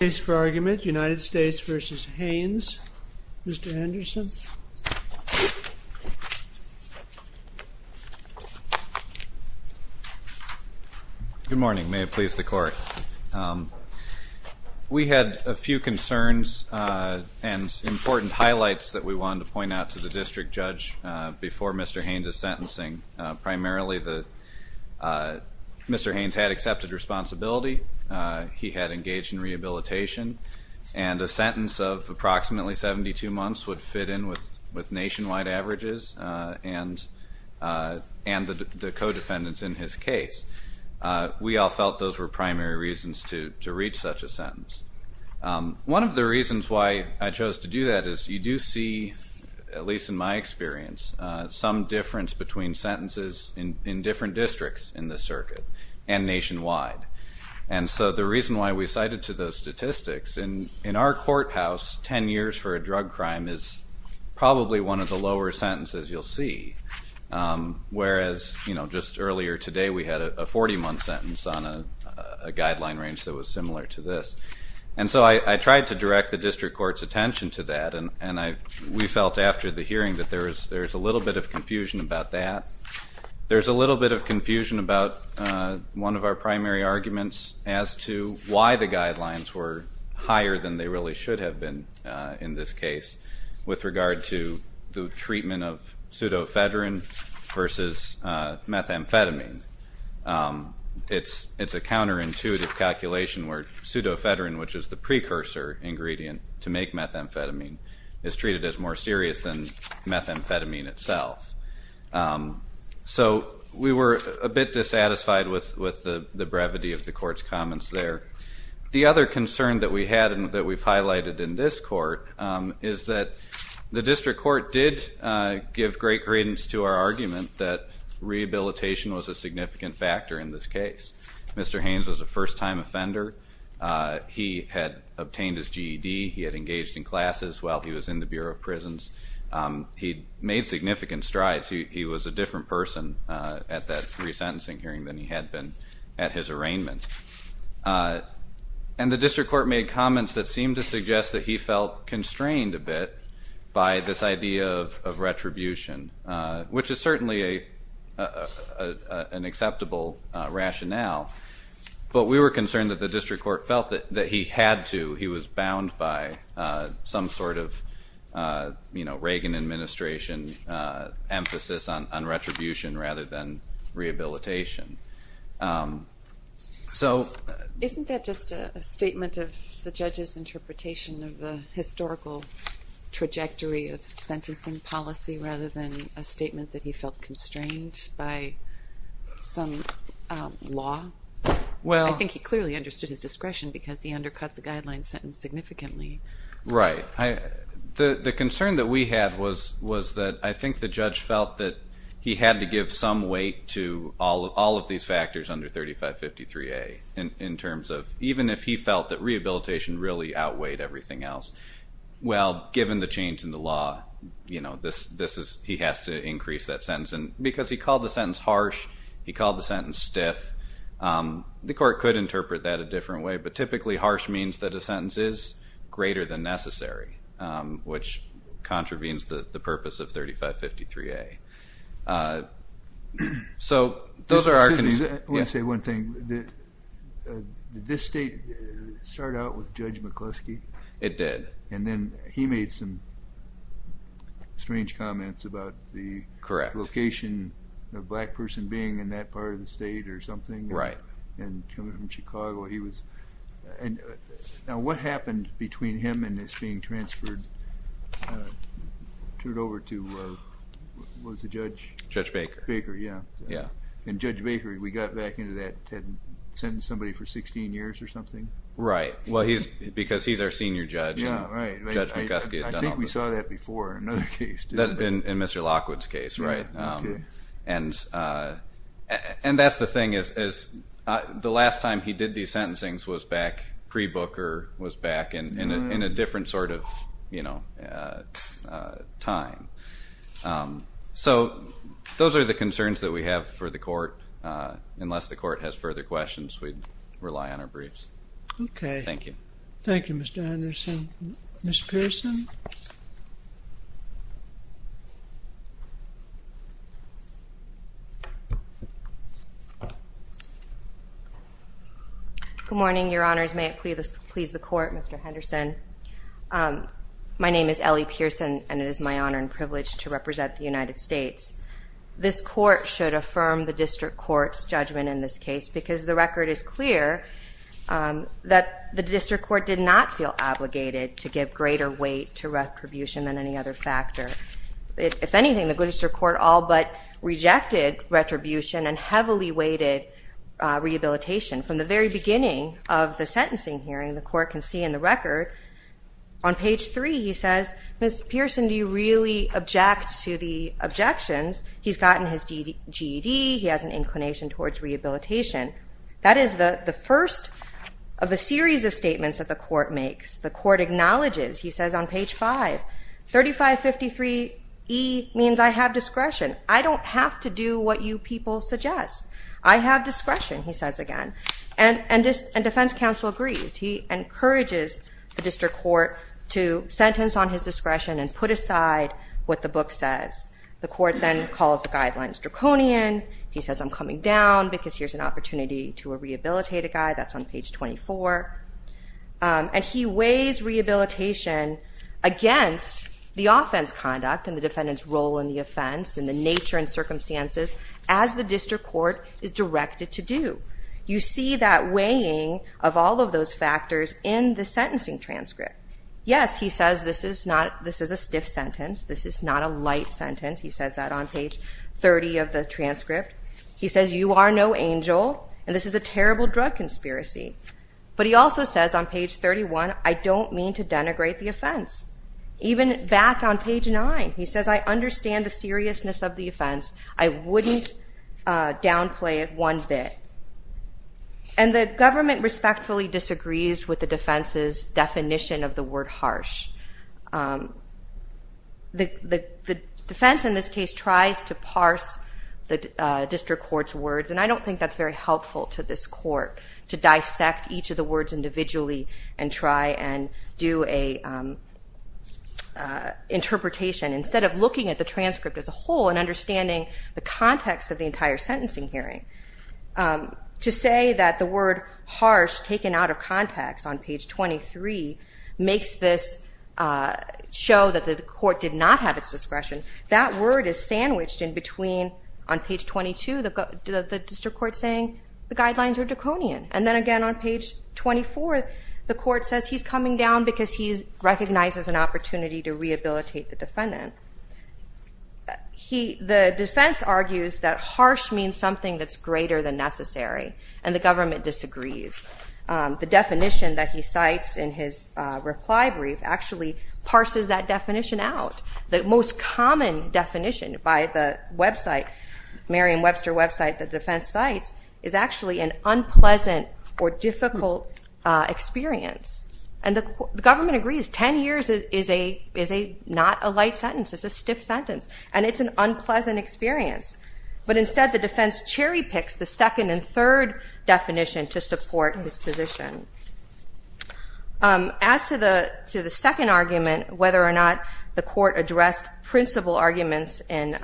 Case for argument, United States v. Haynes. Mr. Henderson. Good morning. May it please the court. We had a few concerns and important highlights that we wanted to point out to the district judge before Mr. Haynes' sentencing. Primarily, Mr. Haynes had accepted responsibility, he had engaged in rehabilitation, and a sentence of approximately 72 months would fit in with nationwide averages and the co-defendants in his case. We all felt those were primary reasons to reach such a sentence. One of the reasons why I chose to do that is you do see, at least in my experience, some difference between sentences in different districts in the circuit and nationwide. And so the reason why we cited to those statistics, in our courthouse, 10 years for a drug crime is probably one of the lower sentences you'll see, whereas just earlier today we had a 40-month sentence on a guideline range that was similar to this. And so I tried to direct the district court's attention to that, and we felt after the hearing that there was a little bit of confusion about that. There's a little bit of confusion about one of our primary arguments as to why the guidelines were higher than they really should have been in this case with regard to the treatment of pseudofedrin versus methamphetamine. It's a counterintuitive calculation where pseudofedrin, which is the precursor ingredient to make methamphetamine, is treated as more serious than methamphetamine itself. So we were a bit dissatisfied with the brevity of the court's comments there. The other concern that we had and that we've highlighted in this court is that the district court did give great credence to our argument that rehabilitation was a significant factor in this case. Mr. Haynes was a first-time offender. He had obtained his GED. He had engaged in classes while he was in the Bureau of Prisons. He made significant strides. He was a different person at that resentencing hearing than he had been at his arraignment. And the district court made comments that seemed to suggest that he felt constrained a bit by this idea of retribution, which is certainly an acceptable rationale. But we were concerned that the district court felt that he had to. He was bound by some sort of Reagan administration emphasis on retribution rather than rehabilitation. Isn't that just a statement of the judge's interpretation of the historical trajectory of sentencing policy rather than a statement that he felt constrained by some law? I think he clearly understood his discretion because he undercut the guideline sentence significantly. Right. The concern that we had was that I think the judge felt that he had to give some weight to all of these factors under 3553A in terms of even if he felt that rehabilitation really outweighed everything else, well, given the change in the law, he has to increase that sentence. And because he called the sentence harsh, he called the sentence stiff, the court could interpret that a different way, but typically harsh means that a sentence is greater than necessary, which contravenes the purpose of 3553A. So those are our concerns. Excuse me. I want to say one thing. Did this state start out with Judge McCluskey? It did. And then he made some strange comments about the location of a black person being in that part of the state or something. Right. And coming from Chicago, he was... Now what happened between him and his being transferred, turned over to, what was the judge? Judge Baker. Baker, yeah. Yeah. And Judge Baker, we got back into that, had sentenced somebody for 16 years or something? Right. Well, because he's our senior judge. Yeah, right. Judge McCluskey had done all the... I think we saw that before in another case, didn't we? In Mr. Lockwood's case, right. Okay. And that's the thing is the last time he did these sentencings was back pre-Booker, was back in a different sort of time. So those are the concerns that we have for the court. Unless the court has further questions, we'd rely on our briefs. Okay. Thank you. Thank you, Mr. Anderson. Ms. Pearson? Good morning, Your Honors. May it please the Court, Mr. Henderson. My name is Ellie Pearson, and it is my honor and privilege to represent the United States. This court should affirm the district court's judgment in this case because the record is clear that the district court did not feel obligated to give greater weight to retribution than any other factor. If anything, the Gloucester court all but rejected retribution and heavily weighted rehabilitation. From the very beginning of the sentencing hearing, the court can see in the record on page 3, he says, Ms. Pearson, do you really object to the objections? He's gotten his GED. He has an inclination towards rehabilitation. That is the first of a series of statements that the court makes. The court acknowledges, he says on page 5, 3553E means I have discretion. I don't have to do what you people suggest. I have discretion, he says again. And defense counsel agrees. He encourages the district court to sentence on his discretion and put aside what the book says. The court then calls the guidelines draconian. He says I'm coming down because here's an opportunity to rehabilitate a guy. That's on page 24. And he weighs rehabilitation against the offense conduct and the defendant's role in the offense and the nature and circumstances as the district court is directed to do. You see that weighing of all of those factors in the sentencing transcript. Yes, he says this is a stiff sentence. This is not a light sentence. He says that on page 30 of the transcript. He says you are no angel, and this is a terrible drug conspiracy. But he also says on page 31, I don't mean to denigrate the offense. Even back on page 9, he says I understand the seriousness of the offense. I wouldn't downplay it one bit. And the government respectfully disagrees with the defense's definition of the word harsh. The defense in this case tries to parse the district court's words, and I don't think that's very helpful to this court to dissect each of the words individually and try and do an interpretation. Instead of looking at the transcript as a whole and understanding the context of the entire sentencing hearing, to say that the word harsh, taken out of context on page 23, makes this show that the court did not have its discretion. That word is sandwiched in between on page 22 the district court saying the guidelines are draconian, and then again on page 24 the court says he's coming down because he recognizes an opportunity to rehabilitate the defendant. The defense argues that harsh means something that's greater than necessary, and the government disagrees. The definition that he cites in his reply brief actually parses that definition out. The most common definition by the website, Merriam-Webster website the defense cites, is actually an unpleasant or difficult experience. And the government agrees. Ten years is not a light sentence. It's a stiff sentence, and it's an unpleasant experience. But instead the defense cherry-picks the second and third definition to support his position. As to the second argument, whether or not the court addressed principle arguments in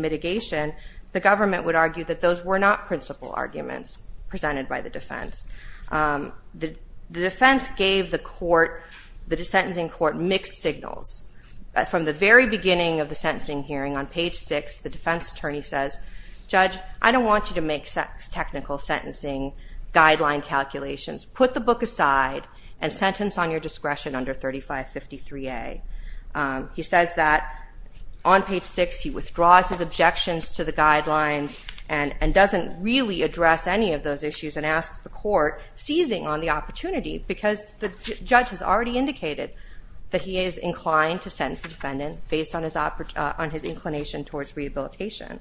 mitigation, the government would argue that those were not principle arguments presented by the defense. The defense gave the court, the sentencing court, mixed signals. From the very beginning of the sentencing hearing on page 6, the defense attorney says, Judge, I don't want you to make technical sentencing guideline calculations. Put the book aside and sentence on your discretion under 3553A. He says that on page 6 he withdraws his objections to the guidelines and doesn't really address any of those issues and asks the court, seizing on the opportunity, because the judge has already indicated that he is inclined to sentence the defendant based on his inclination towards rehabilitation.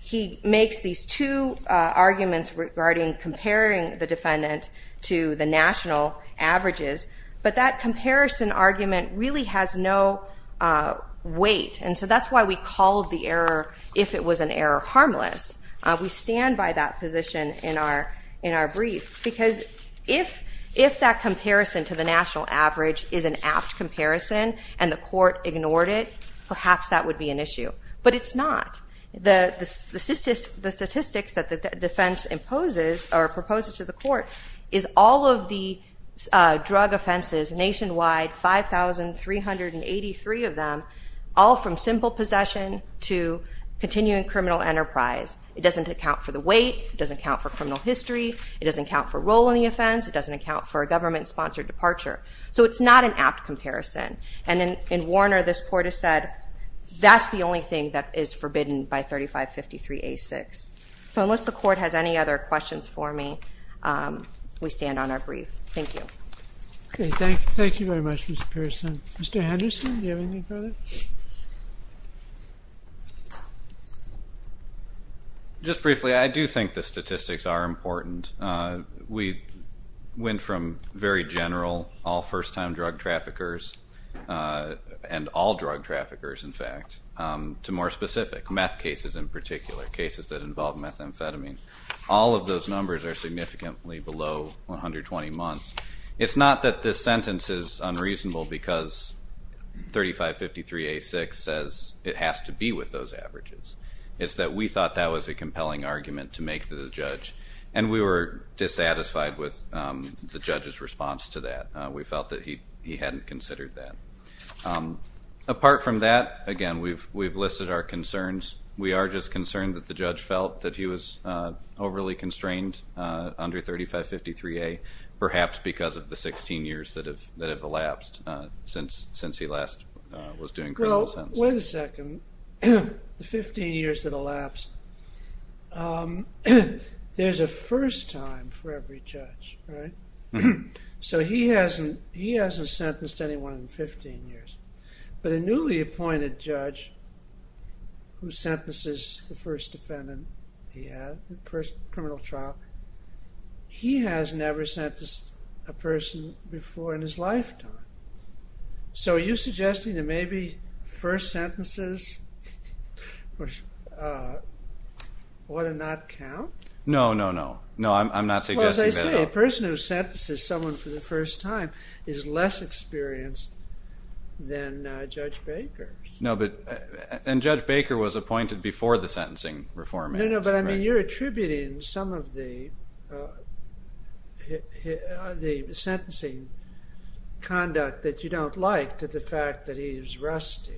He makes these two arguments regarding comparing the defendant to the national averages, but that comparison argument really has no weight, and so that's why we called the error, if it was an error, harmless. We stand by that position in our brief because if that comparison to the national average is an apt comparison and the court ignored it, perhaps that would be an issue. But it's not. The statistics that the defense imposes or proposes to the court is all of the drug offenses nationwide, 5,383 of them, all from simple possession to continuing criminal enterprise. It doesn't account for the weight. It doesn't account for criminal history. It doesn't account for role in the offense. It doesn't account for a government-sponsored departure. So it's not an apt comparison. And in Warner, this court has said that's the only thing that is forbidden by 3553A.6. So unless the court has any other questions for me, we stand on our brief. Thank you. Okay, thank you very much, Mr. Pearson. Mr. Henderson, do you have anything further? Just briefly, I do think the statistics are important. We went from very general, all first-time drug traffickers, and all drug traffickers, in fact, to more specific, meth cases in particular, cases that involve methamphetamine. All of those numbers are significantly below 120 months. It's not that this sentence is unreasonable because 3553A.6 says it has to be with those averages. It's that we thought that was a compelling argument to make to the judge, and we were dissatisfied with the judge's response to that. We felt that he hadn't considered that. Apart from that, again, we've listed our concerns. We are just concerned that the judge felt that he was overly constrained under 3553A, perhaps because of the 16 years that have elapsed since he last was doing criminal sentences. Well, wait a second. The 15 years that elapsed, there's a first time for every judge, right? So he hasn't sentenced anyone in 15 years. But a newly appointed judge who sentences the first defendant he has, the first criminal trial, he has never sentenced a person before in his lifetime. So are you suggesting that maybe first sentences ought to not count? No, no, no. No, I'm not suggesting that at all. A person who sentences someone for the first time is less experienced than Judge Baker. And Judge Baker was appointed before the sentencing reform. No, no, but you're attributing some of the sentencing conduct that you don't like to the fact that he's rusty.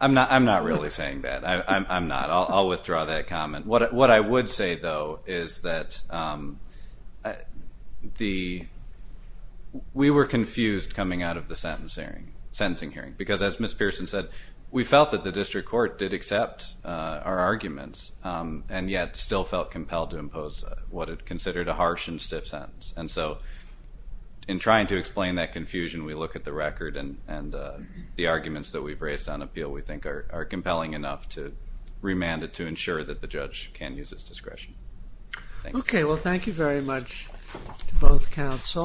I'm not really saying that. I'm not. I'll withdraw that comment. What I would say, though, is that we were confused coming out of the sentencing hearing, because as Ms. Pearson said, we felt that the district court did accept our arguments and yet still felt compelled to impose what it considered a harsh and stiff sentence. And so in trying to explain that confusion, we look at the record and the arguments that we've raised on appeal we think are compelling enough to remand it to ensure that the judge can use his discretion. Okay. Well, thank you very much to both counsel.